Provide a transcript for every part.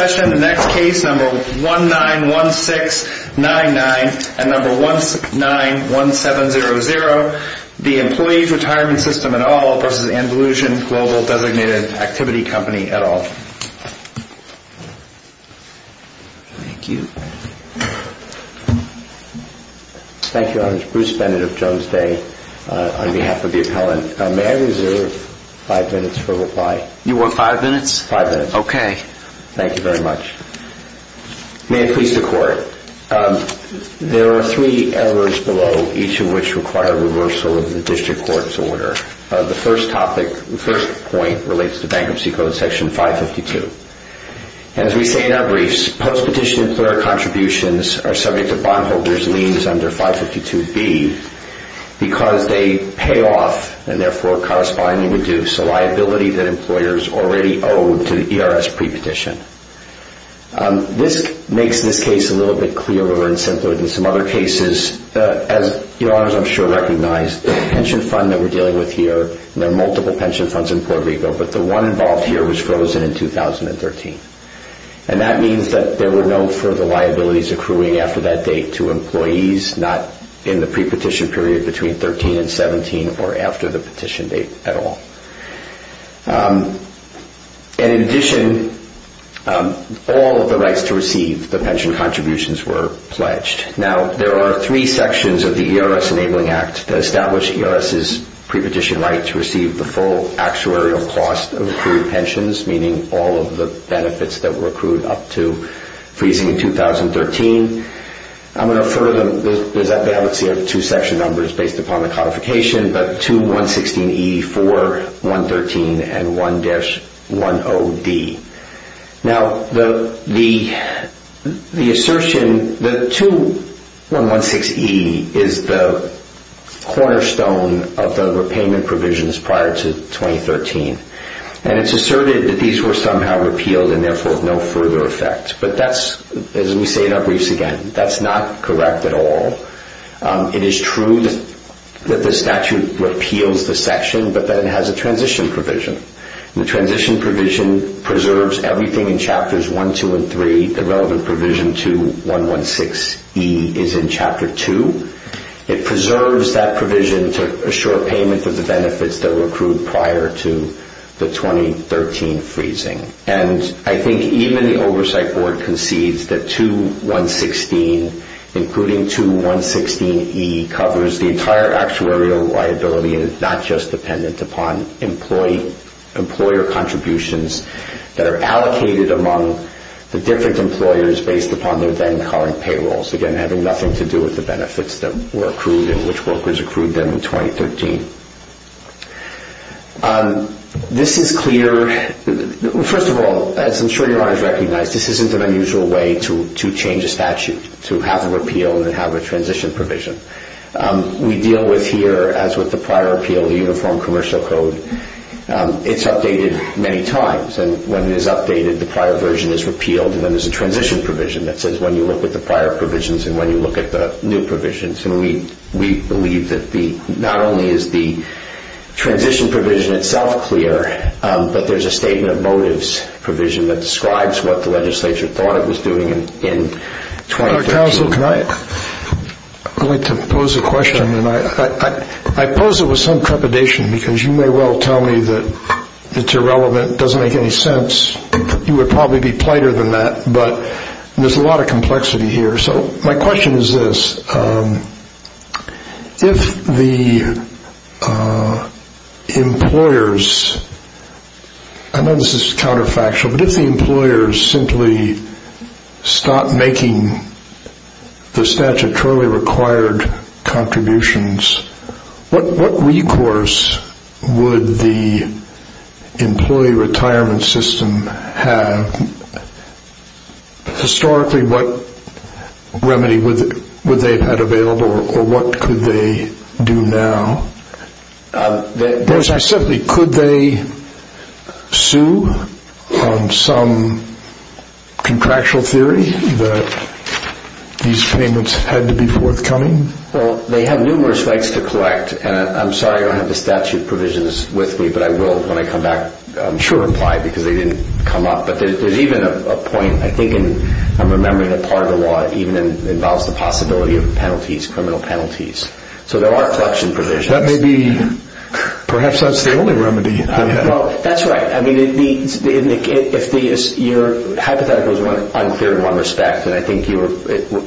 Activity Company, et al. Thank you. Thank you. I'm Bruce Bennett of Jones Day. On behalf of Jones Day, thank you very much. May it please the Court. There are three errors below, each of which require reversal of the District Court's order. The first point relates to Bankruptcy Code Section 552. As we say in our briefs, post-petition employer contributions are subject to bondholders' liens under 552B because they pay off and therefore correspondingly reduce the liability that employers already owe to the ERS pre-petition. This makes this case a little bit clearer and simpler than some other cases. As your Honors, I'm sure, recognize, the pension fund that we're dealing with here, there are multiple pension funds in Puerto Rico, but the one involved here was frozen in 2013. And that means that there were no further liabilities accruing after that date to employees, not in the pre-petition period between 13 and 17 or after the petition date at all. And in addition, all of the rights to receive the pension contributions were pledged. Now, there are three sections of the ERS Enabling Act that establish ERS's pre-petition right to receive the full actuarial cost of accrued pensions, meaning all of the benefits that were accrued up to freezing in 2013. I'm going to refer to them. They have two section numbers based upon the codification, but 2116E4 and 2116E5, those are the three sections. Now, the assertion that 2116E is the cornerstone of the repayment provisions prior to 2013, and it's asserted that these were somehow repealed and therefore of no further effect. But that's, as we say in our briefs again, that's not correct at all. It is true that the statute repeals the section, but then has a transition provision. The transition provision preserves everything in chapters 1, 2, and 3. The relevant provision 2116E is in chapter 2. It preserves that provision to assure payment of the benefits that were accrued prior to the 2013 freezing. And I think even the Oversight Board concedes that 2116, including 2116E, covers the entire actuarial liability and is not just dependent upon employer contributions that are allocated among the different employers based upon their then current payrolls, again, having nothing to do with the benefits that were accrued and which workers accrued them in 2013. This is clear. First of all, as I'm sure you all recognize, this isn't an unusual way to change a statute, to have a repeal and have a transition provision. We deal with here, as with the prior appeal, the Uniform Commercial Code. It's updated many times, and when it is updated, the prior version is repealed, and then there's a transition provision that says when you look at the prior provisions and when you look at the new provisions. And we believe that not only is the transition provision itself clear, but there's a statement of motives provision that describes what the legislature thought it was doing in 2013. I'd like to pose a question, and I pose it with some trepidation because you may well tell me that it's irrelevant, doesn't make any sense. You would probably be plighter than that, but there's a lot of complexity here. My question is this. If the employers, I know this is counterfactual, but if the employers simply stopped making the statutorily required contributions, what recourse would the employee retirement system have? Historically, what remedy would they have had available, or what could they do now? Could they sue some contractual theory that these payments had to be forthcoming? Well, they have numerous rights to collect, and I'm sorry I don't have the statute provisions with me, but I will, when I come back, I'm sure, apply because they didn't come up. But there's even a point, I think, and I'm remembering that part of the law even involves the possibility of penalties, criminal penalties. So there are collection provisions. That may be, perhaps that's the only remedy. Well, that's right. I mean, your hypothetical is unclear in one respect, and I think you were,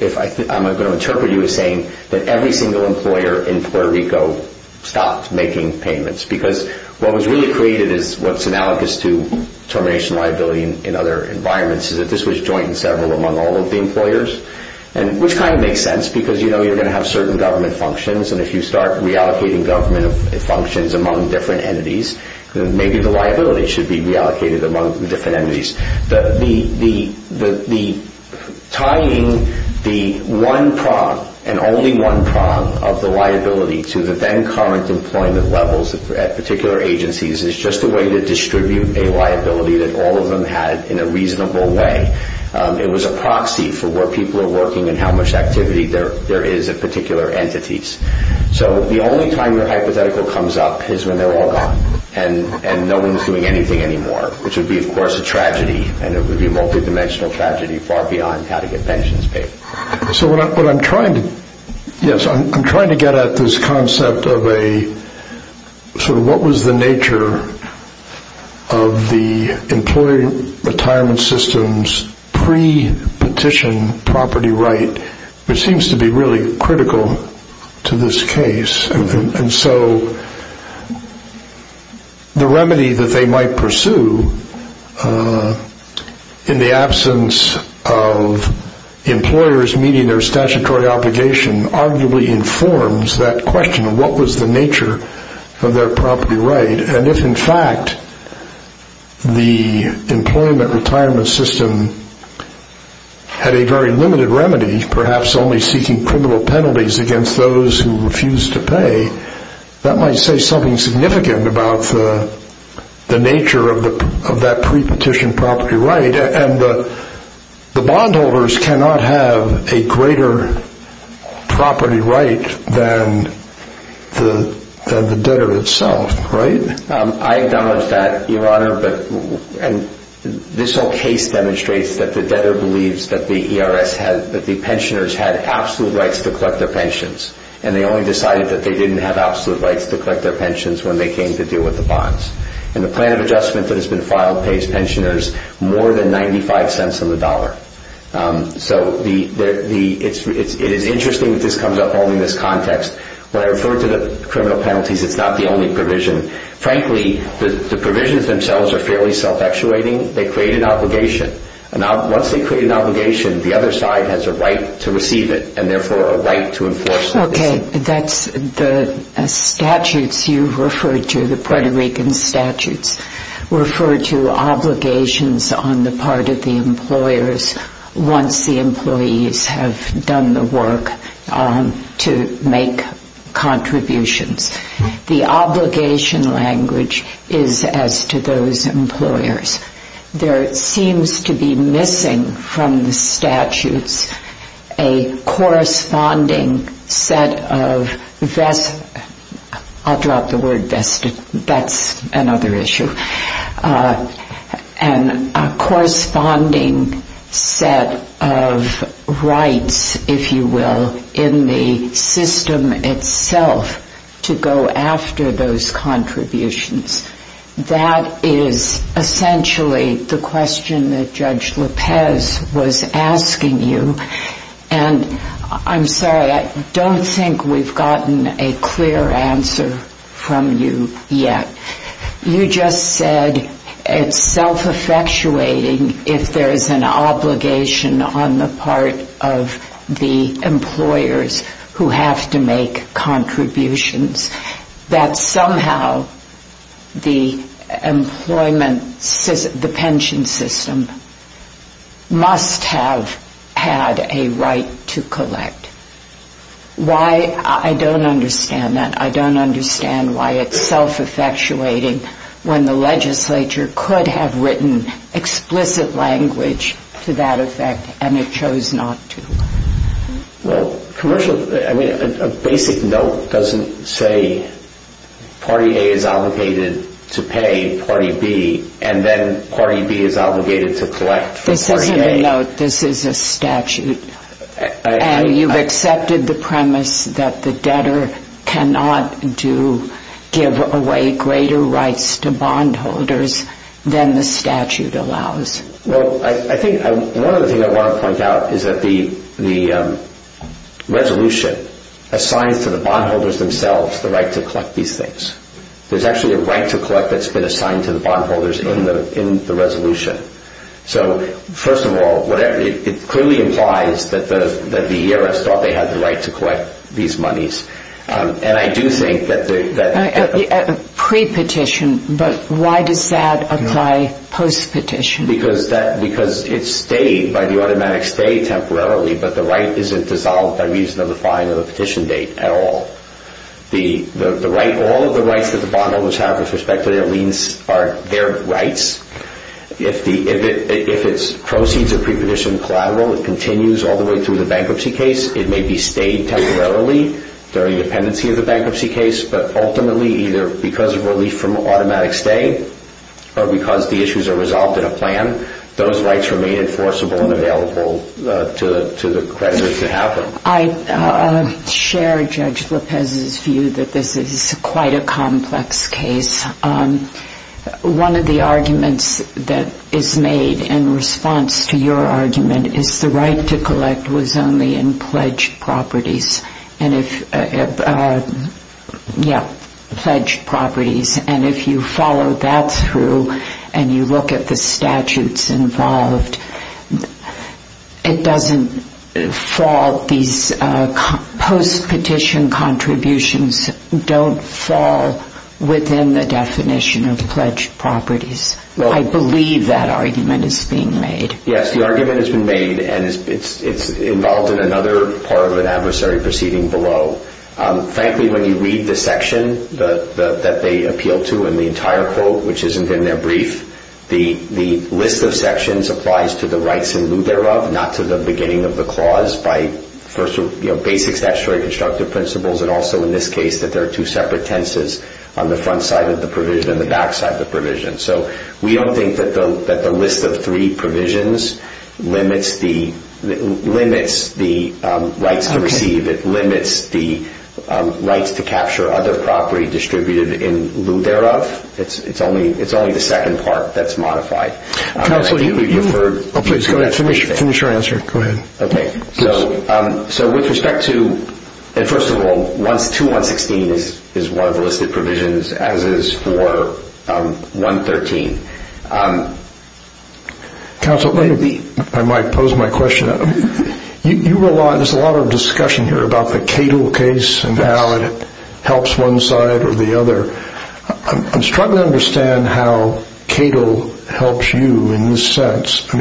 if I'm going to interpret you as saying that every single employer in Puerto Rico stopped making payments because what was really created is what's analogous to termination liability in other environments is that this was joint and several among all of the employers, which kind of makes sense because you know you're going to have certain government functions, and if you start reallocating government functions among different entities, maybe the liability should be reallocated among different entities. The tying the one prong and only one prong of the liability to the then current employment levels at particular agencies is just a way to distribute a liability that all of them had in a reasonable way. It was a proxy for where people are working and how much activity there is at particular entities. So the only time your hypothetical comes up is when they're all gone and no one's doing anything anymore, which would be, of course, a tragedy, and it would be a multidimensional tragedy far beyond how to get pensions paid. Yes, I'm trying to get at this concept of a sort of what was the nature of the employer retirement system's pre-petition property right, which seems to be really critical to this case. And so the remedy that they might pursue in the absence of employers meeting their statutory obligation arguably informs that question of what was the nature of their property right, and if in fact the employment retirement system had a very limited remedy, perhaps only seeking criminal penalties against those who refused to pay, that might say something significant about the nature of that pre-petition property right, and the bondholders cannot have a greater property right than the debtor itself, right? I acknowledge that, Your Honor, and this whole case demonstrates that the debtor believes that the pensioners had absolute rights to collect their pensions, and they only decided that they didn't have absolute rights to collect their pensions when they came to deal with the bonds. And the plan of adjustment that has been filed pays pensioners more than 95 cents on the dollar. So it is interesting that this comes up all in this context. When I refer to the criminal penalties, it's not the only provision. Frankly, the provisions themselves are fairly self-actuating. They create an obligation, and once they create an obligation, the other side has a right to receive it, and therefore a right to enforce it. Okay, that's the statutes you referred to, the Puerto Rican statutes, refer to obligations on the part of the employers once the employees have done the work to make contributions. The obligation language is as to those employers. There seems to be missing from the statutes a corresponding set of, I'll drop the word vested, that's another issue, and a corresponding set of rights, if you will, in the system itself to go after those contributions. That is essentially the question that Judge Lopez was asking you, and I'm sorry, I don't think we've gotten a clear answer from you yet. You just said it's self-effectuating if there is an obligation on the part of the employers who have to make contributions. That somehow the pension system must have had a right to collect. I don't understand that. I don't understand why it's self-effectuating when the legislature could have written explicit language to that effect and it chose not to. Well, a basic note doesn't say party A is obligated to pay party B, and then party B is obligated to collect from party A. This isn't a note, this is a statute, and you've accepted the premise that the debtor cannot give away greater rights to bondholders than the statute allows. Well, I think one other thing I want to point out is that the resolution assigns to the bondholders themselves the right to collect these things. There's actually a right to collect that's been assigned to the bondholders in the resolution. So, first of all, it clearly implies that the ERS thought they had the right to collect these monies, and I do think that... Pre-petition, but why does that apply post-petition? Because it's stayed by the automatic stay temporarily, but the right isn't dissolved by reason of the fine or the petition date at all. All of the rights that the bondholders have with respect to their liens are their rights. If it proceeds a pre-petition collateral, it continues all the way through the bankruptcy case, it may be stayed temporarily during the pendency of the bankruptcy case, but ultimately either because of relief from automatic stay or because the issues are resolved in a plan, those rights remain enforceable and available to the creditors to have them. I share Judge Lopez's view that this is quite a complex case. One of the arguments that is made in response to your argument is the right to collect was only in pledged properties. And if you follow that through and you look at the statutes involved, it doesn't fall, these post-petition contributions don't fall within the definition of pledged properties. I believe that argument is being made. Yes, the argument has been made, and it's involved in another part of an adversary proceeding below. Frankly, when you read the section that they appeal to in the entire quote, which isn't in their brief, the list of sections applies to the rights in lieu thereof, not to the beginning of the clause by basic statutory constructive principles, and also in this case that there are two separate tenses on the front side of the provision and the back side of the provision. So we don't think that the list of three provisions limits the rights to receive, it limits the rights to capture other property distributed in lieu thereof. It's only the second part that's modified. Counsel, finish your answer, go ahead. Okay, so with respect to, first of all, 2116 is one of the listed provisions as is 4113. Counsel, I might pose my question. There's a lot of discussion here about the Cato case and how it helps one side or the other. I'm struggling to understand how Cato helps you in this sense.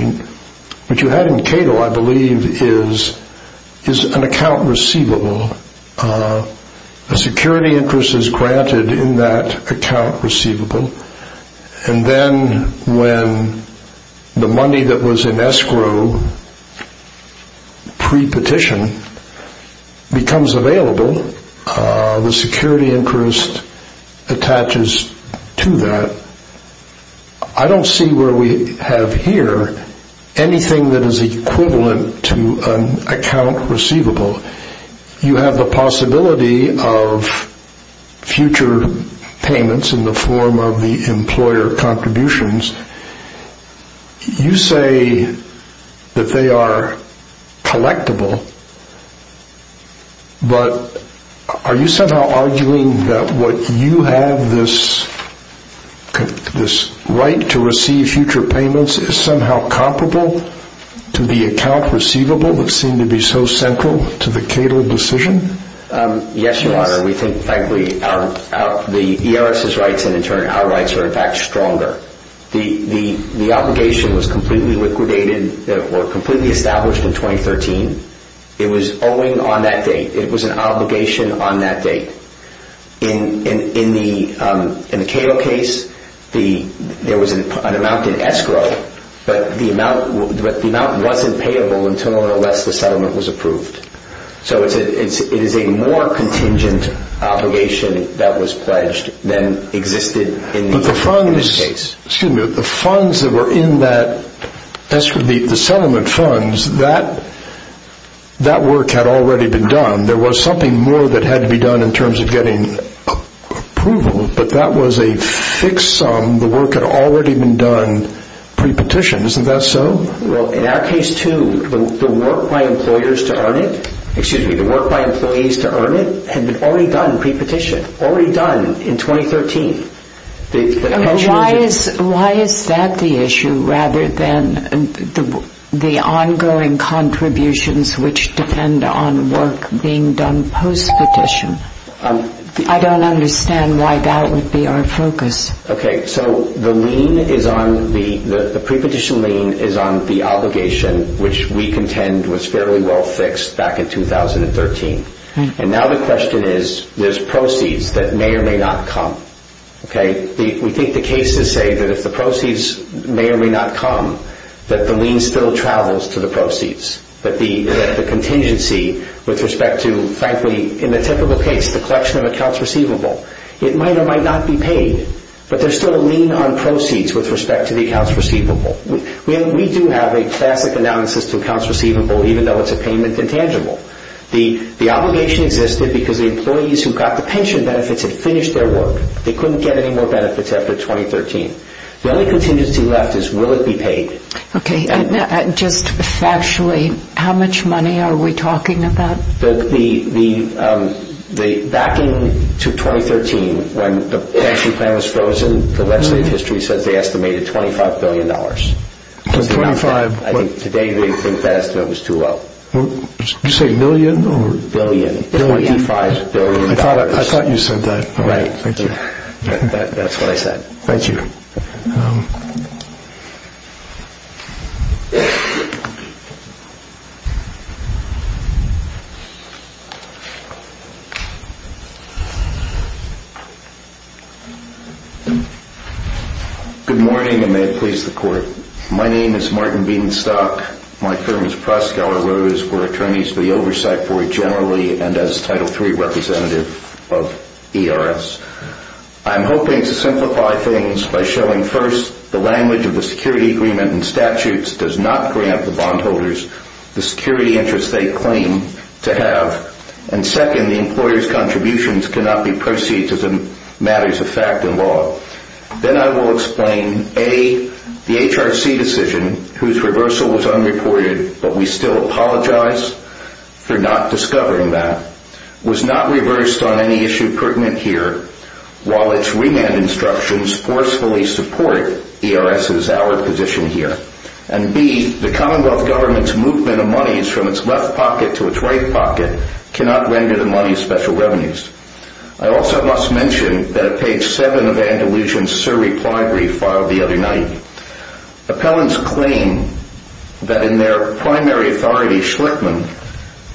What you have in Cato, I believe, is an account receivable. A security interest is granted in that account receivable. And then when the money that was in escrow pre-petition becomes available, the security interest attaches to that. I don't see where we have here anything that is equivalent to an account receivable. You have the possibility of future payments in the form of the employer contributions. You say that they are collectible, but are you somehow arguing that what you have, this right to receive future payments, is somehow comparable to the account receivable that seemed to be so central to the Cato decision? Yes, Your Honor. We think, frankly, the ERS's rights and, in turn, our rights are, in fact, stronger. The obligation was completely liquidated or completely established in 2013. It was owing on that date. It was an obligation on that date. In the Cato case, there was an amount in escrow, but the amount wasn't payable until or unless the settlement was approved. So it is a more contingent obligation that was pledged than existed in the case. But the funds that were in the settlement funds, that work had already been done. There was something more that had to be done in terms of getting approval, but that was a fixed sum. The work had already been done pre-petition. Isn't that so? Well, in our case, too, the work by employees to earn it had been already done pre-petition, already done in 2013. Why is that the issue rather than the ongoing contributions which depend on work being done post-petition? I don't understand why that would be our focus. Okay, so the pre-petition lien is on the obligation which we contend was fairly well fixed back in 2013. And now the question is, there's proceeds that may or may not come. We think the cases say that if the proceeds may or may not come, that the lien still travels to the proceeds. That the contingency with respect to, frankly, in the typical case, the collection of accounts receivable, it might or might not be paid, but there's still a lien on proceeds with respect to the accounts receivable. We do have a classic analysis to accounts receivable, even though it's a payment intangible. The obligation existed because the employees who got the pension benefits had finished their work. They couldn't get any more benefits after 2013. The only contingency left is, will it be paid? Okay, just factually, how much money are we talking about? Back in 2013, when the pension plan was frozen, the legislative history says they estimated $25 billion. Today they think that estimate was too low. Did you say million? Billion, $25 billion. I thought you said that. That's what I said. Thank you. Good morning, and may it please the court. My name is Martin Bedenstock. My term as prosecutor was for attorneys for the Oversight Board generally and as Title III representative of ERS. I'm hoping to simplify things by showing first the language of the security agreement and statutes does not grant the bondholders the security interest they claim to have. And second, the employer's contributions cannot be perceived as matters of fact and law. Then I will explain, A, the HRC decision, whose reversal was unreported, but we still apologize for not discovering that, was not reversed on any issue pertinent here, while its remand instructions forcefully support ERS's, our position here. And B, the commonwealth government's movement of monies from its left pocket to its right pocket cannot render the money special revenues. I also must mention that at page 7 of Andalusian's sir reply brief filed the other night, appellants claim that in their primary authority, Schlickman,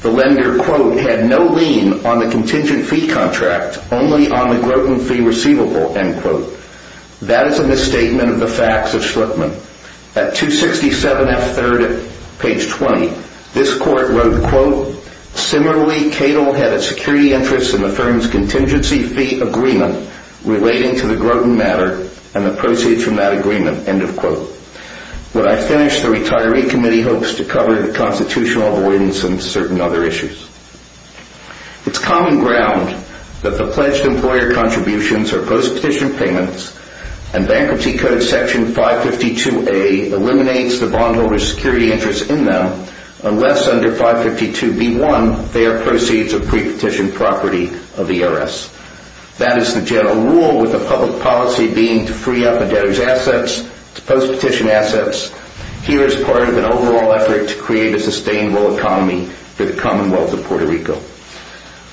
the lender, quote, had no lien on the contingent fee contract, only on the groten fee receivable, end quote. That is a misstatement of the facts of Schlickman. On page 267F3rd at page 20, this court wrote, quote, similarly, Cato had a security interest in the firm's contingency fee agreement relating to the groten matter and the proceeds from that agreement, end of quote. When I finish, the retiree committee hopes to cover the constitutional avoidance and certain other issues. It's common ground that the pledged employer contributions are post-petition payments, and Bankruptcy Code section 552A eliminates the bondholder's security interest in them, unless under 552B1 they are proceeds of pre-petition property of ERS. That is the general rule with the public policy being to free up a debtor's assets to post-petition assets. Here is part of an overall effort to create a sustainable economy for the Commonwealth of Puerto Rico.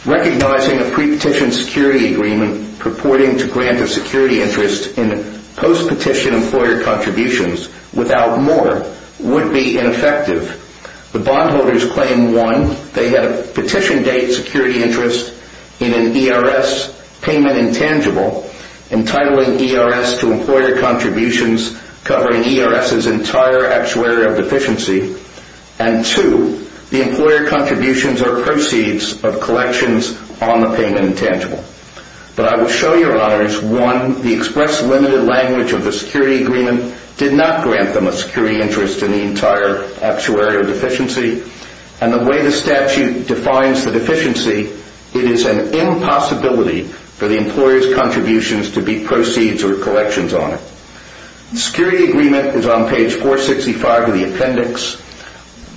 Recognizing a pre-petition security agreement purporting to grant a security interest in post-petition employer contributions without more would be ineffective. The bondholders claim, one, they had a petition date security interest in an ERS payment intangible, entitling ERS to employer contributions covering ERS's entire actuary of deficiency, and two, the employer contributions are proceeds of collections on the payment intangible. But I will show your honors, one, the express limited language of the security agreement did not grant them a security interest in the entire actuary of deficiency, and the way the statute defines the deficiency, it is an impossibility for the employer's contributions to be proceeds or collections on it. The security agreement is on page 465 of the appendix.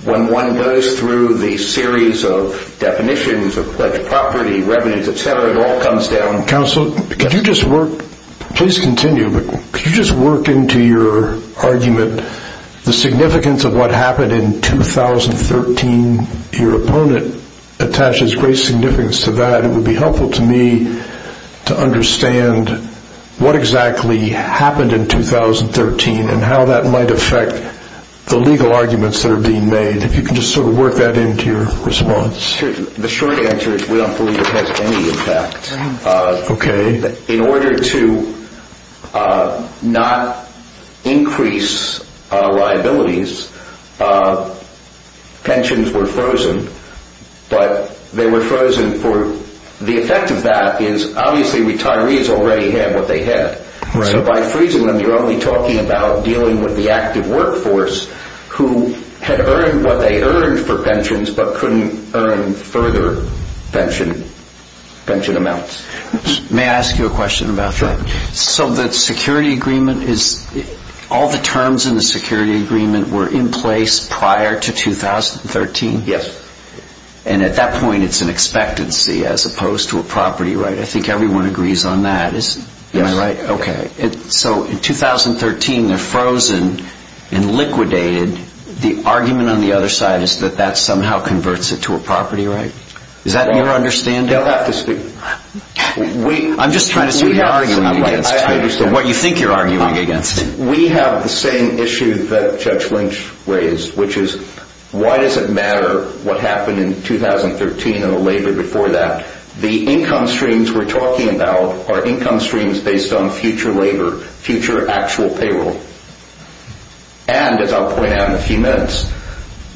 When one goes through the series of definitions of pledged property, revenues, etc., it all comes down to... Counsel, could you just work, please continue, but could you just work into your argument, the significance of what happened in 2013, your opponent attaches great significance to that. It would be helpful to me to understand what exactly happened in 2013 and how that might affect the legal arguments that are being made. If you can just sort of work that into your response. The short answer is we don't believe it has any impact. In order to not increase liabilities, pensions were frozen, but they were frozen for... The effect of that is obviously retirees already had what they had. So by freezing them, you're only talking about dealing with the active workforce who had earned what they earned for pensions but couldn't earn further pension amounts. May I ask you a question about that? Sure. So the security agreement is... all the terms in the security agreement were in place prior to 2013? Yes. And at that point, it's an expectancy as opposed to a property right? I think everyone agrees on that, isn't it? So in 2013, they're frozen and liquidated. The argument on the other side is that that somehow converts it to a property right? Is that your understanding? You don't have to speak... I'm just trying to see what you're arguing against. What you think you're arguing against. We have the same issue that Judge Lynch raised, which is why does it matter what happened in 2013 and the labor before that? The income streams we're talking about are income streams based on future labor, future actual payroll. And as I'll point out in a few minutes,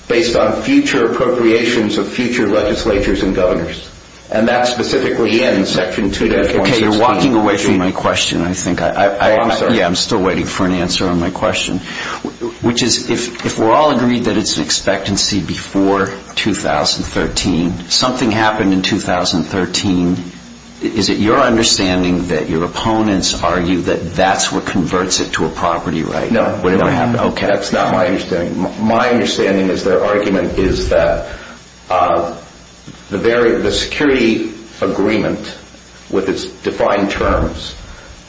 based on future appropriations of future legislatures and governors. And that's specifically in Section 2-16. Okay, you're walking away from my question I think. Oh, I'm sorry. Yeah, I'm still waiting for an answer on my question. Which is, if we're all agreed that it's an expectancy before 2013, something happened in 2013. Is it your understanding that your opponents argue that that's what converts it to a property right? No, that's not my understanding. My understanding is their argument is that the security agreement with its defined terms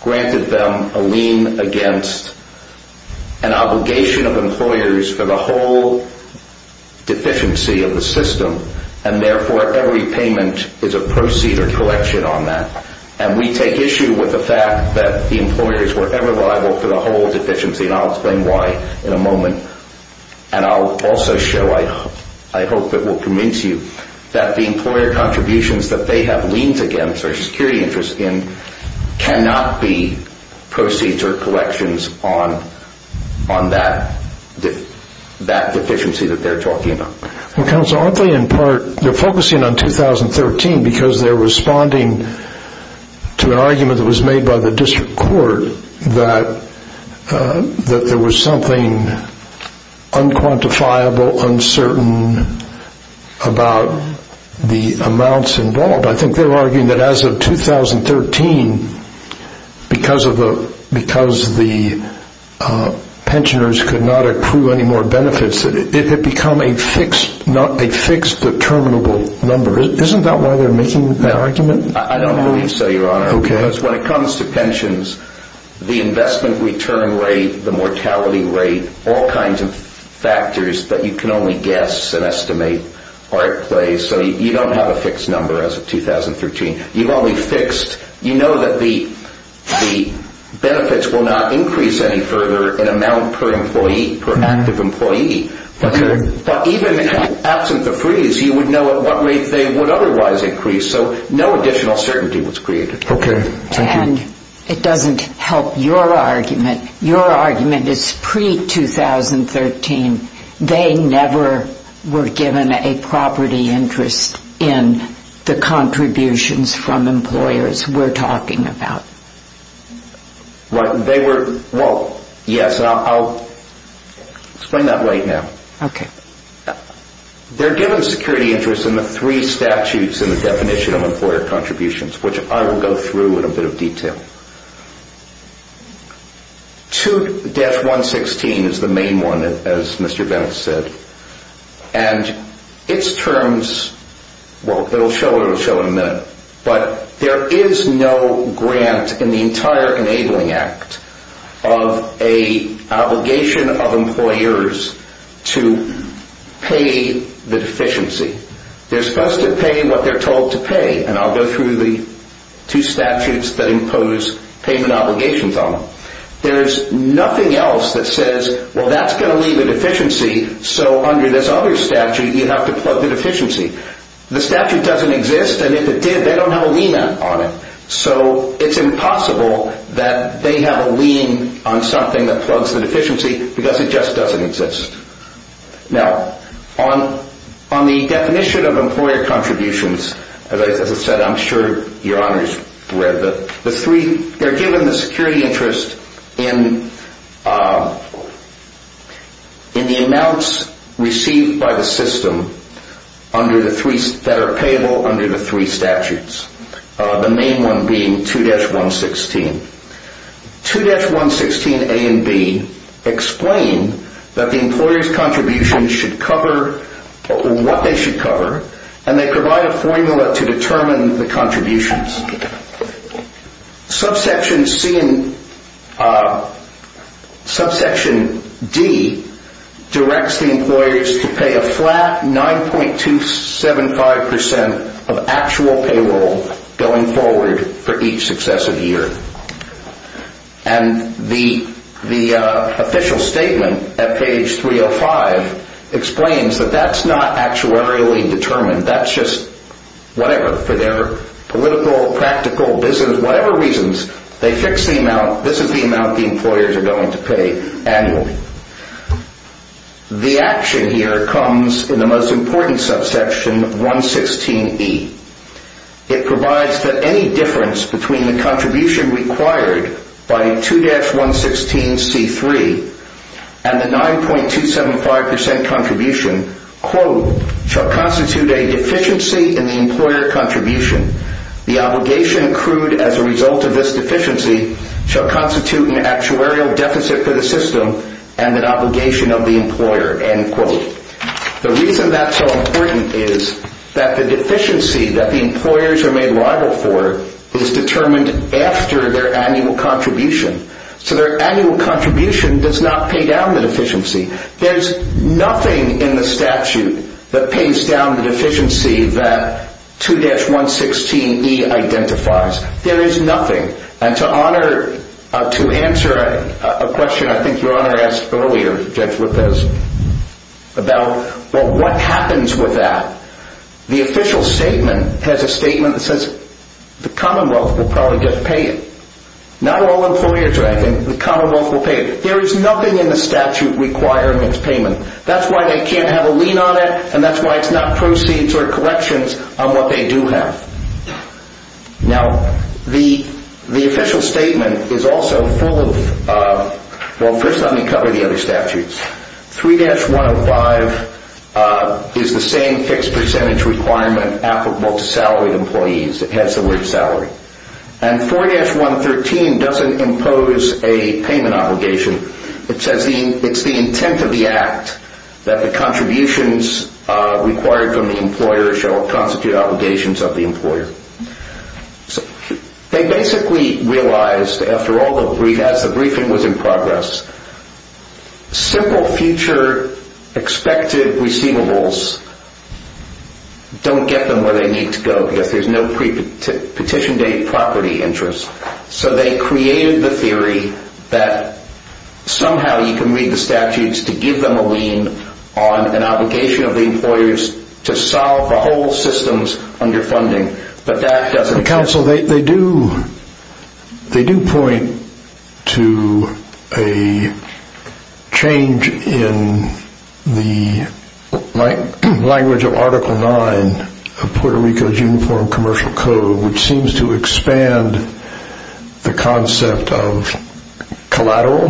granted them a lien against an obligation of employers for the whole deficiency of the system. And therefore every payment is a proceed or collection on that. And we take issue with the fact that the employers were ever liable for the whole deficiency. And I'll explain why in a moment. And I'll also show, I hope it will convince you, that the employer contributions that they have liens against or security interests in cannot be proceeds or collections on that deficiency that they're talking about. Counsel, aren't they in part, they're focusing on 2013 because they're responding to an argument that was made by the district court that there was something unquantifiable, uncertain about the amounts involved. I think they're arguing that as of 2013, because the pensioners could not accrue any more benefits, it had become a fixed, not a fixed, but terminable number. Isn't that why they're making that argument? I don't believe so, Your Honor. Because when it comes to pensions, the investment return rate, the mortality rate, all kinds of factors that you can only guess and estimate are at play. So you don't have a fixed number as of 2013. You've only fixed, you know that the benefits will not increase any further in amount per employee, per active employee. But even absent the freeze, you would know at what rate they would otherwise increase. So no additional certainty was created. Okay, thank you. And it doesn't help your argument. Your argument is pre-2013, they never were given a property interest in the contributions from employers we're talking about. Well, yes, and I'll explain that right now. Okay. They're given security interest in the three statutes in the definition of employer contributions, which I will go through in a bit of detail. 2-116 is the main one, as Mr. Bennett said. And its terms, well, it will show in a minute. But there is no grant in the entire Enabling Act of an obligation of employers to pay the deficiency. They're supposed to pay what they're told to pay. And I'll go through the two statutes that impose payment obligations on them. There's nothing else that says, well, that's going to leave a deficiency, so under this other statute, you'd have to plug the deficiency. The statute doesn't exist, and if it did, they don't have a lien on it. So it's impossible that they have a lien on something that plugs the deficiency, because it just doesn't exist. Now, on the definition of employer contributions, as I said, I'm sure your honors read the three. They're given the security interest in the amounts received by the system that are payable under the three statutes. The main one being 2-116. 2-116A and B explain that the employer's contributions should cover what they should cover, and they provide a formula to determine the contributions. Subsection D directs the employers to pay a flat 9.275% of actual payroll going forward for each successive year. And the official statement at page 305 explains that that's not actuarially determined. That's just whatever, for their political, practical, business, whatever reasons, they fix the amount. This is the amount the employers are going to pay annually. The action here comes in the most important subsection, 116E. It provides that any difference between the contribution required by 2-116C3 and the 9.275% contribution, quote, shall constitute a deficiency in the employer contribution. The obligation accrued as a result of this deficiency shall constitute an actuarial deficit for the system and an obligation of the employer, end quote. The reason that's so important is that the deficiency that the employers are made liable for is determined after their annual contribution. So their annual contribution does not pay down the deficiency. There's nothing in the statute that pays down the deficiency that 2-116E identifies. There is nothing. And to answer a question I think Your Honor asked earlier, Judge Lopez, about what happens with that, the official statement has a statement that says the commonwealth will probably just pay it. Not all employers are acting, the commonwealth will pay it. There is nothing in the statute requiring its payment. That's why they can't have a lien on it, and that's why it's not proceeds or collections on what they do have. Now, the official statement is also full of, well, first let me cover the other statutes. 3-105 is the same fixed percentage requirement applicable to salaried employees. It has the word salary. And 4-113 doesn't impose a payment obligation. It says it's the intent of the act that the contributions required from the employer shall constitute obligations of the employer. They basically realized after all the briefings, as the briefing was in progress, simple future expected receivables don't get them where they need to go because there's no petition date property interest. So they created the theory that somehow you can read the statutes to give them a lien on an obligation of the employers to solve the whole systems under funding, but that doesn't... Counsel, they do point to a change in the language of Article 9 of Puerto Rico's Uniform Commercial Code which seems to expand the concept of collateral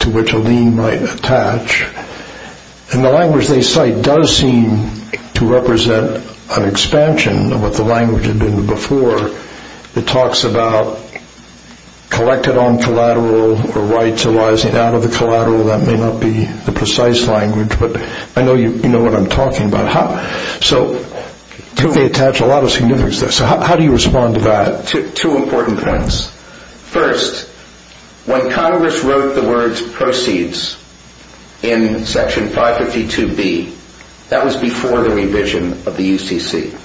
to which a lien might attach. And the language they cite does seem to represent an expansion of what the language had been before. It talks about collected on collateral or rights arising out of the collateral. That may not be the precise language, but I know you know what I'm talking about. So how do you respond to that? Two important points. First, when Congress wrote the words proceeds in Section 552B, that was before the revision of the UCC.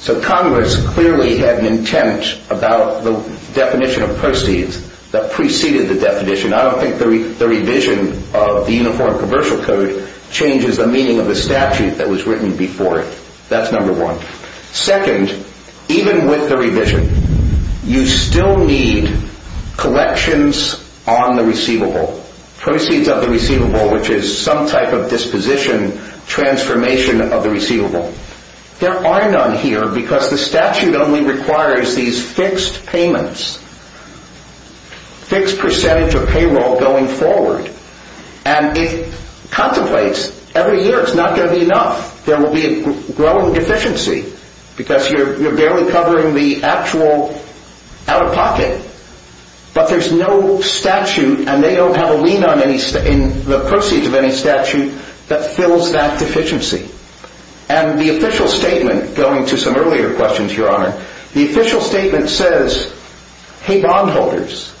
So Congress clearly had an intent about the definition of proceeds that preceded the definition. I don't think the revision of the Uniform Commercial Code changes the meaning of the statute that was written before it. That's number one. Second, even with the revision, you still need collections on the receivable. Proceeds of the receivable which is some type of disposition, transformation of the receivable. There are none here because the statute only requires these fixed payments. Fixed percentage of payroll going forward. And it contemplates every year it's not going to be enough. There will be a growing deficiency because you're barely covering the actual out-of-pocket. But there's no statute and they don't have a lien in the proceeds of any statute that fills that deficiency. And the official statement, going to some earlier questions, Your Honor, the official statement says, hey bondholders,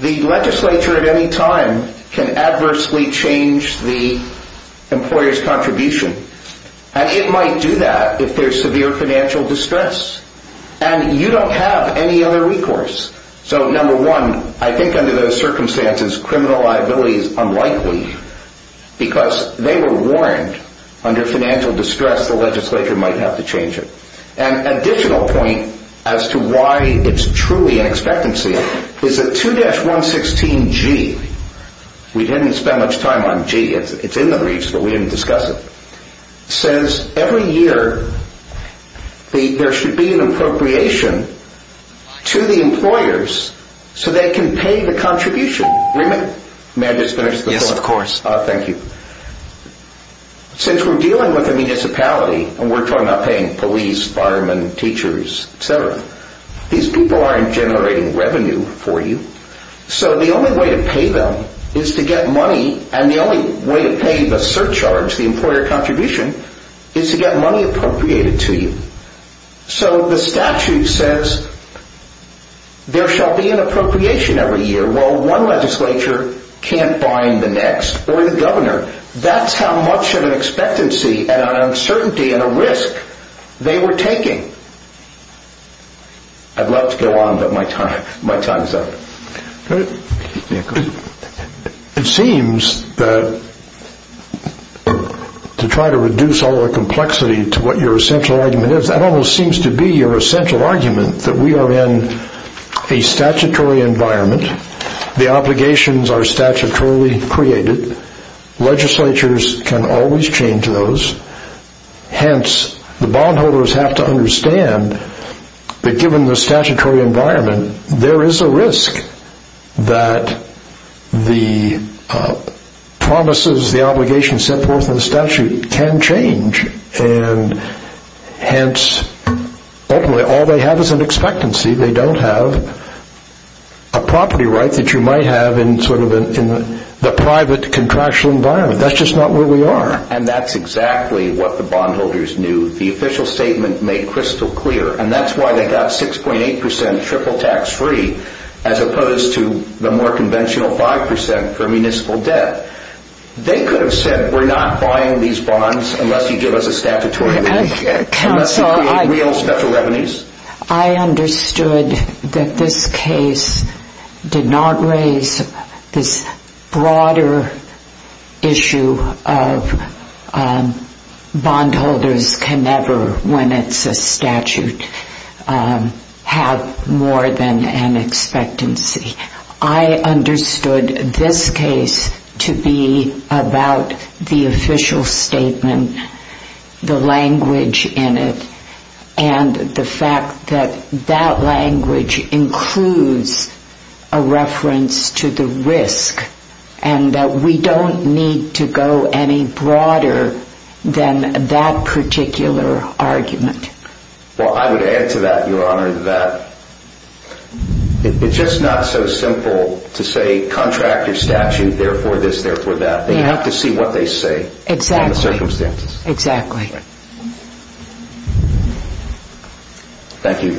the legislature at any time can adversely change the employer's contribution. And it might do that if there's severe financial distress. And you don't have any other recourse. So number one, I think under those circumstances, criminal liability is unlikely because they were warned under financial distress the legislature might have to change it. My additional point as to why it's truly an expectancy is that 2-116G, we didn't spend much time on G, it's in the briefs but we didn't discuss it, says every year there should be an appropriation to the employers so they can pay the contribution. May I just finish the quote? Yes, of course. Thank you. Since we're dealing with a municipality and we're talking about paying police, firemen, teachers, etc., these people aren't generating revenue for you, so the only way to pay them is to get money and the only way to pay the surcharge, the employer contribution, is to get money appropriated to you. So the statute says there shall be an appropriation every year. Well, one legislature can't find the next or the governor. That's how much of an expectancy and an uncertainty and a risk they were taking. I'd love to go on but my time is up. It seems that to try to reduce all the complexity to what your essential argument is, that almost seems to be your essential argument, that we are in a statutory environment, the obligations are statutorily created, legislatures can always change those, hence the bondholders have to understand that given the statutory environment, there is a risk that the promises, the obligations set forth in the statute can change and hence ultimately all they have is an expectancy. They don't have a property right that you might have in the private contractual environment. That's just not where we are. And that's exactly what the bondholders knew. The official statement made crystal clear and that's why they got 6.8% triple tax free as opposed to the more conventional 5% for municipal debt. They could have said we are not buying these bonds unless you give us a statutory limit. Unless there are real special revenues. I understood that this case did not raise this broader issue of bondholders can never, when it's a statute, have more than an expectancy. I understood this case to be about the official statement, the language in it, and the fact that that language includes a reference to the risk and that we don't need to go any broader than that particular argument. Well, I would add to that, Your Honor, that it's just not so simple to say contractor statute, therefore this, therefore that. They have to see what they say. Exactly. Thank you.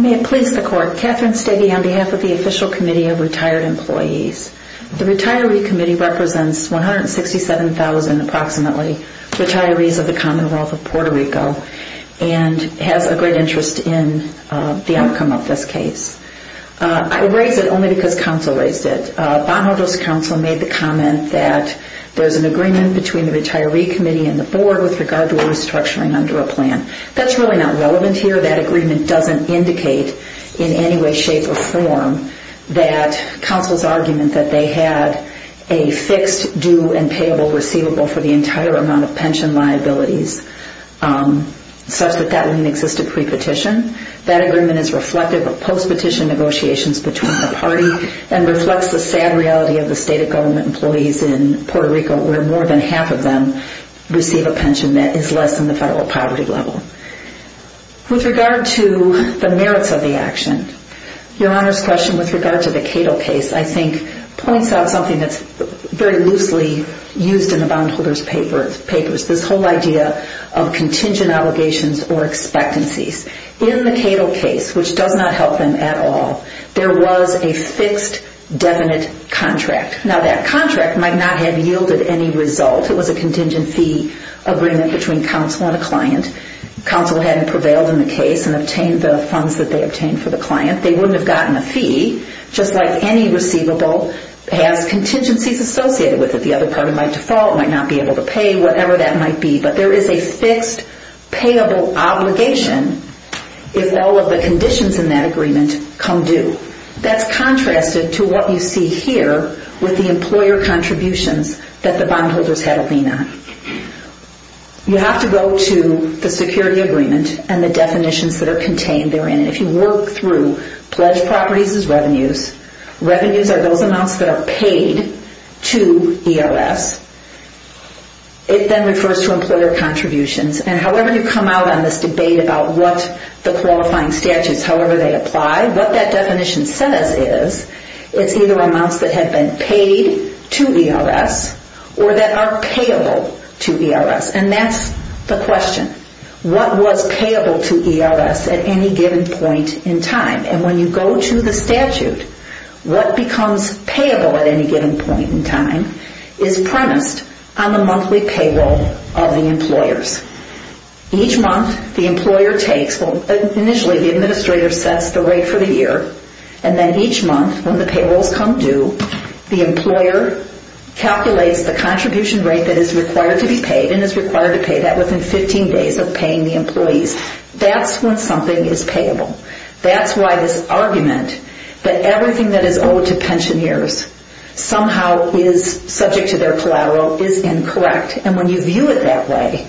May it please the Court. Catherine Stegi on behalf of the Official Committee of Retired Employees. The retiree committee represents 167,000 approximately retirees of the Commonwealth of Puerto Rico and has a great interest in the outcome of this case. I raise it only because counsel raised it. The bondholders counsel made the comment that there's an agreement between the retiree committee and the board with regard to restructuring under a plan. That's really not relevant here. That agreement doesn't indicate in any way, shape, or form that counsel's argument that they had a fixed due and payable receivable for the entire amount of pension liabilities such that that wouldn't exist at pre-petition. That agreement is reflective of post-petition negotiations between the party and reflects the sad reality of the state of government employees in Puerto Rico where more than half of them receive a pension that is less than the federal poverty level. With regard to the merits of the action, your Honor's question with regard to the Cato case, I think, points out something that's very loosely used in the bondholders' papers, this whole idea of contingent allegations or expectancies. In the Cato case, which does not help them at all, there was a fixed, definite contract. Now, that contract might not have yielded any result. It was a contingent fee agreement between counsel and a client. Counsel hadn't prevailed in the case and obtained the funds that they obtained for the client. They wouldn't have gotten a fee, just like any receivable has contingencies associated with it. The other party, by default, might not be able to pay, whatever that might be. But there is a fixed, payable obligation if all of the conditions in that agreement come due. That's contrasted to what you see here with the employer contributions that the bondholders had a lien on. You have to go to the security agreement and the definitions that are contained therein. If you work through pledged properties as revenues, revenues are those amounts that are paid to EOS. It then refers to employer contributions. However you come out on this debate about the qualifying statutes, however they apply, what that definition says is it's either amounts that have been paid to ERS or that are payable to ERS. That's the question. What was payable to ERS at any given point in time? When you go to the statute, what becomes payable at any given point in time is premised on the monthly payroll of the employers. Each month the employer takes, initially the administrator sets the rate for the year, and then each month when the payrolls come due, the employer calculates the contribution rate that is required to be paid and is required to pay that within 15 days of paying the employees. That's when something is payable. That's why this argument that everything that is owed to pensioners somehow is subject to their collateral is incorrect. And when you view it that way,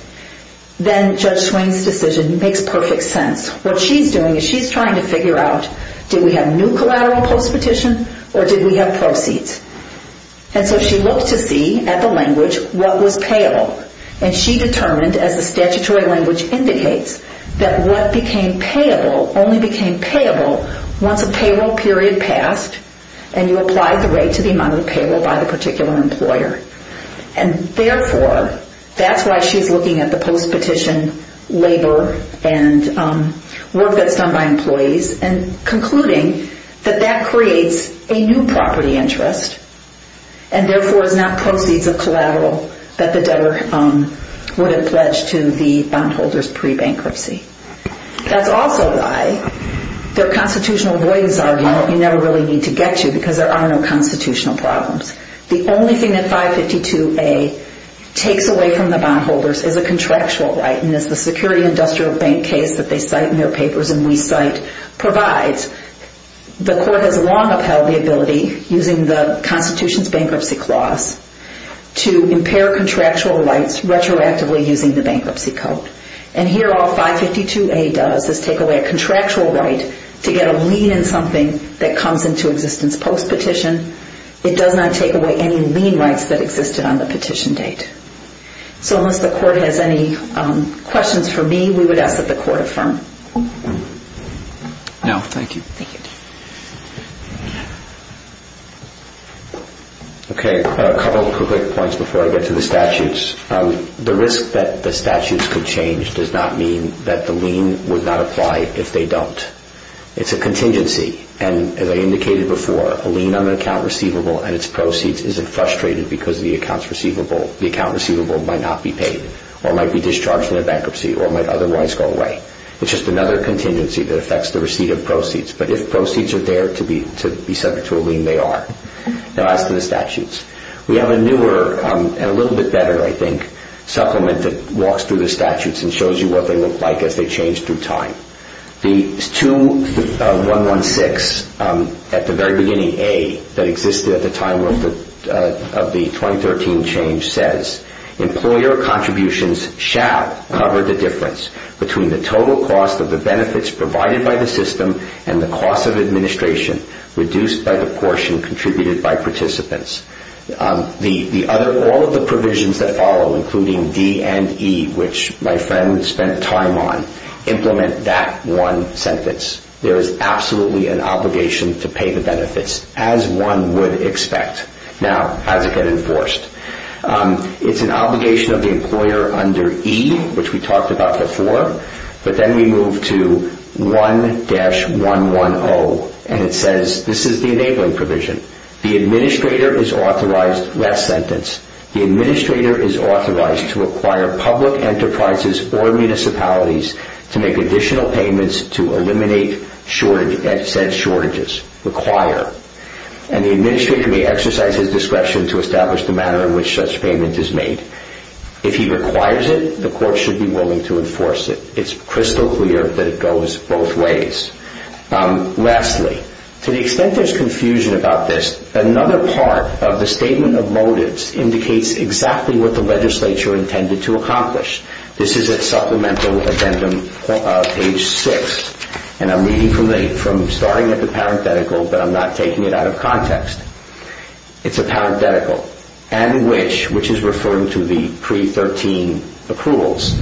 then Judge Swain's decision makes perfect sense. What she's doing is she's trying to figure out did we have new collateral post-petition or did we have proceeds? And so she looked to see at the language what was payable. And she determined, as the statutory language indicates, that what became payable only became payable once a payroll period passed and you applied the rate to the amount of payroll by the particular employer. And therefore, that's why she's looking at the post-petition labor and work that's done by employees and concluding that that creates a new property interest and therefore is not proceeds of collateral that the debtor would have pledged to the bondholders pre-bankruptcy. That's also why the constitutional avoidance argument you never really need to get to because there are no constitutional problems. The only thing that 552A takes away from the bondholders is a contractual right. And as the Security Industrial Bank case that they cite in their papers and we cite provides, the court has long upheld the ability using the Constitution's bankruptcy clause to impair contractual rights retroactively using the bankruptcy code. And here all 552A does is take away a contractual right to get a lien in something that comes into existence post-petition. It does not take away any lien rights that existed on the petition date. So unless the court has any questions for me, we would ask that the court affirm. No, thank you. Thank you. Okay, a couple quick points before I get to the statutes. The risk that the statutes could change does not mean that the lien would not apply if they don't. It's a contingency. And as I indicated before, a lien on an account receivable and its proceeds isn't frustrated because the account receivable might not be paid or might be discharged in a bankruptcy or might otherwise go away. It's just another contingency that affects the receipt of proceeds. But if proceeds are there to be subject to a lien, they are. Now as to the statutes, we have a newer and a little bit better, I think, supplement that walks through the statutes and shows you what they look like as they change through time. The 2-116 at the very beginning, A, that existed at the time of the 2013 change says, employer contributions shall cover the difference between the total cost of the benefits provided by the system and the cost of administration reduced by the portion contributed by participants. All of the provisions that follow, including D and E, which my friend spent time on, implement that one sentence. There is absolutely an obligation to pay the benefits, as one would expect. Now, how does it get enforced? It's an obligation of the employer under E, which we talked about before. But then we move to 1-110, and it says, this is the enabling provision. The administrator is authorized, last sentence, the administrator is authorized to acquire public enterprises or municipalities to make additional payments to eliminate said shortages. Require. And the administrator may exercise his discretion to establish the manner in which such payment is made. If he requires it, the court should be willing to enforce it. It's crystal clear that it goes both ways. Lastly, to the extent there's confusion about this, another part of the statement of motives indicates exactly what the legislature intended to accomplish. This is at supplemental addendum page 6, and I'm reading from starting at the parenthetical, but I'm not taking it out of context. It's a parenthetical. And which, which is referring to the pre-13 approvals,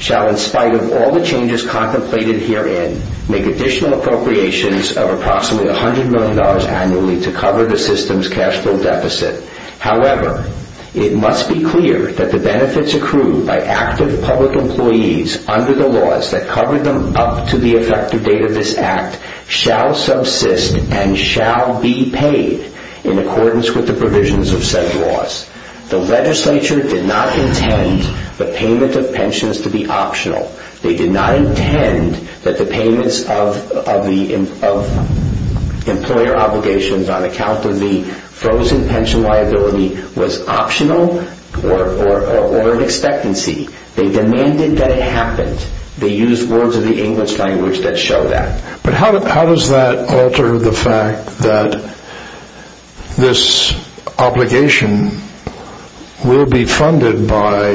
shall in spite of all the changes contemplated herein make additional appropriations of approximately $100 million annually to cover the system's cash flow deficit. However, it must be clear that the benefits accrued by active public employees under the laws that cover them up to the effective date of this act shall subsist and shall be paid in accordance with the provisions of said laws. The legislature did not intend the payment of pensions to be optional. They did not intend that the payments of, of the, of employer obligations on account of the frozen pension liability was optional or, or, or of expectancy. They demanded that it happened. They used words of the English language that show that. But how, how does that alter the fact that this obligation will be funded by,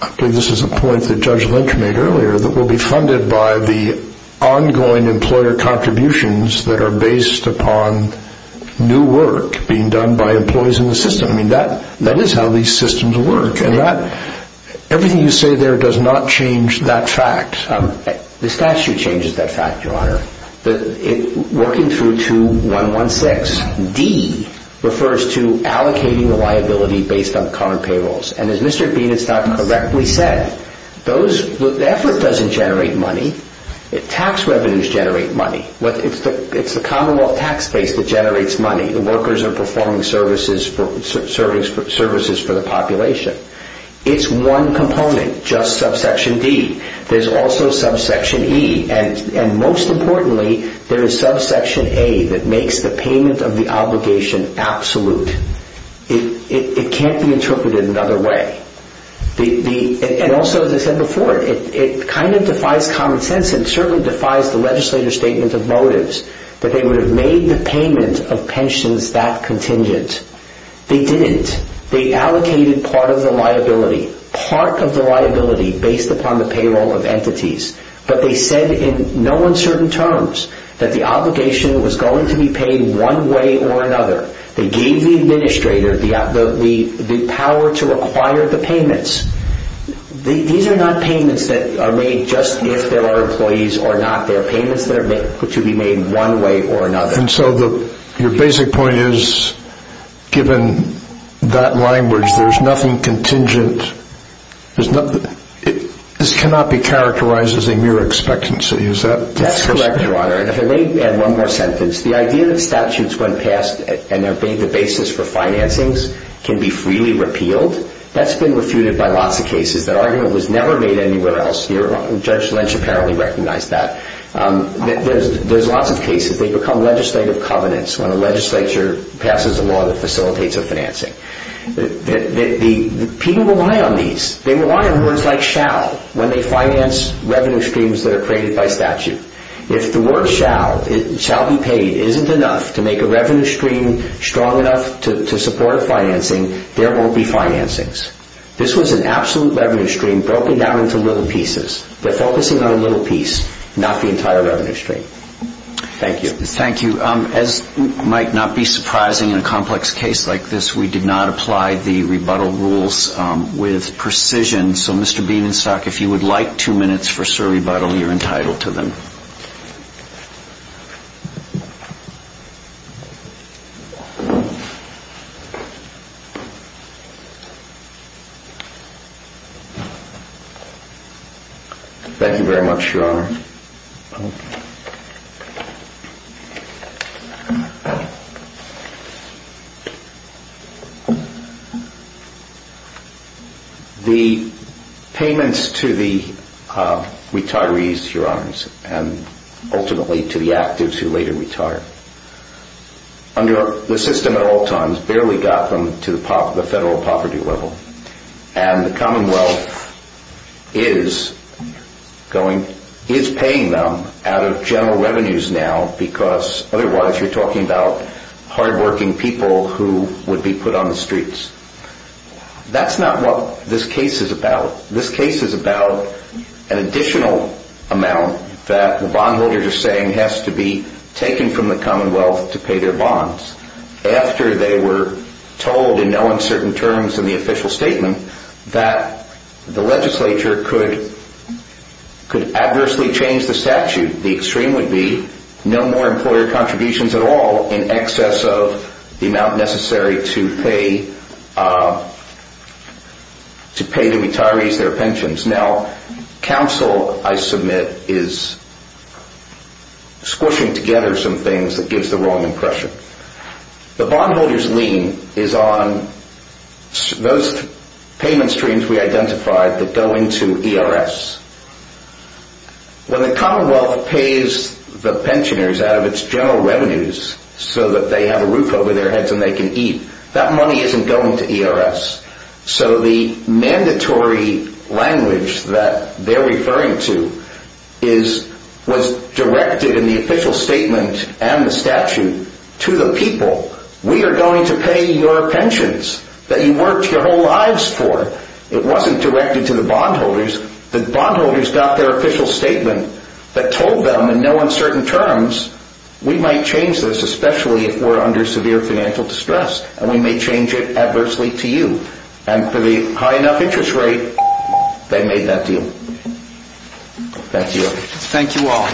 I think this is a point that Judge Lynch made earlier, that will be funded by the ongoing employer contributions that are based upon new work being done by employees in the system. I mean, that, that is how these systems work. And that, everything you say there does not change that fact. The statute changes that fact, Your Honor. It, working through to 116, D refers to allocating the liability based on current payrolls. And as Mr. Bean has now correctly said, those, the effort doesn't generate money. Tax revenues generate money. It's the Commonwealth tax base that generates money. The workers are performing services for, services for the population. It's one component, just subsection D. There's also subsection E. And, and most importantly, there is subsection A that makes the payment of the obligation absolute. It, it, it can't be interpreted another way. The, the, and also as I said before, it, it kind of defies common sense and certainly defies the legislator's statement of motives that they would have made the payment of pensions that contingent. They didn't. They allocated part of the liability, part of the liability based upon the payroll of entities. But they said in no uncertain terms that the obligation was going to be paid one way or another. They gave the administrator the, the, the, the power to require the payments. The, these are not payments that are made just if there are employees or not. They are payments that are made, to be made one way or another. And so the, your basic point is given that language, there's nothing contingent. There's nothing, this cannot be characterized as a mere expectancy. Is that? That's correct, Your Honor. And if I may add one more sentence. The idea that statutes when passed and they're being the basis for financings can be freely repealed. That's been refuted by lots of cases. That argument was never made anywhere else. There's, there's lots of cases. They become legislative covenants when a legislature passes a law that facilitates a financing. The, the, the people rely on these. They rely on words like shall when they finance revenue streams that are created by statute. If the word shall, shall be paid isn't enough to make a revenue stream strong enough to, to support financing, there won't be financings. This was an absolute revenue stream broken down into little pieces. They're focusing on a little piece, a little piece of the revenue stream. Thank you. Thank you. As might not be surprising in a complex case like this, we did not apply the rebuttal rules with precision. So Mr. Bienenstock, if you would like two minutes for sir rebuttal, you're entitled to them. Thank you very much, Your Honor. Thank you. The payments to the retirees, Your Honors, and ultimately to the actives who later retired, under the system at all times, barely got them to the pop, the federal poverty level. And the Commonwealth is going, is paying them out of general revenues now because otherwise you're talking about hardworking people who would be put on the streets. That's not what this case is about. This case is about an additional amount that the bondholders are saying has to be taken from the Commonwealth to pay their bonds after they were told in no uncertain terms in the official statement that the legislature could, could adversely change the statute. The extreme would be no more employer contributions at all in excess of the amount necessary to pay, to pay the retirees their pensions. Now, counsel, I submit, is squishing together some things that gives the wrong impression. The bondholders' lien is on those payment streams we identified that go into ERS. When the Commonwealth pays the pensioners out of its general revenues so that they have a roof over their heads and they can eat, that money isn't going to ERS. So the mandatory language that they're referring to is, was directed in the official statement and the statute to the people, we are going to pay your pensions that you worked your whole lives for. It wasn't directed to the bondholders. The bondholders got their official statement that told them in no uncertain terms we might change this, especially if we're under severe financial distress and we may change it adversely to you. And for the high enough interest rate, they made that deal. Thank you. Thank you all.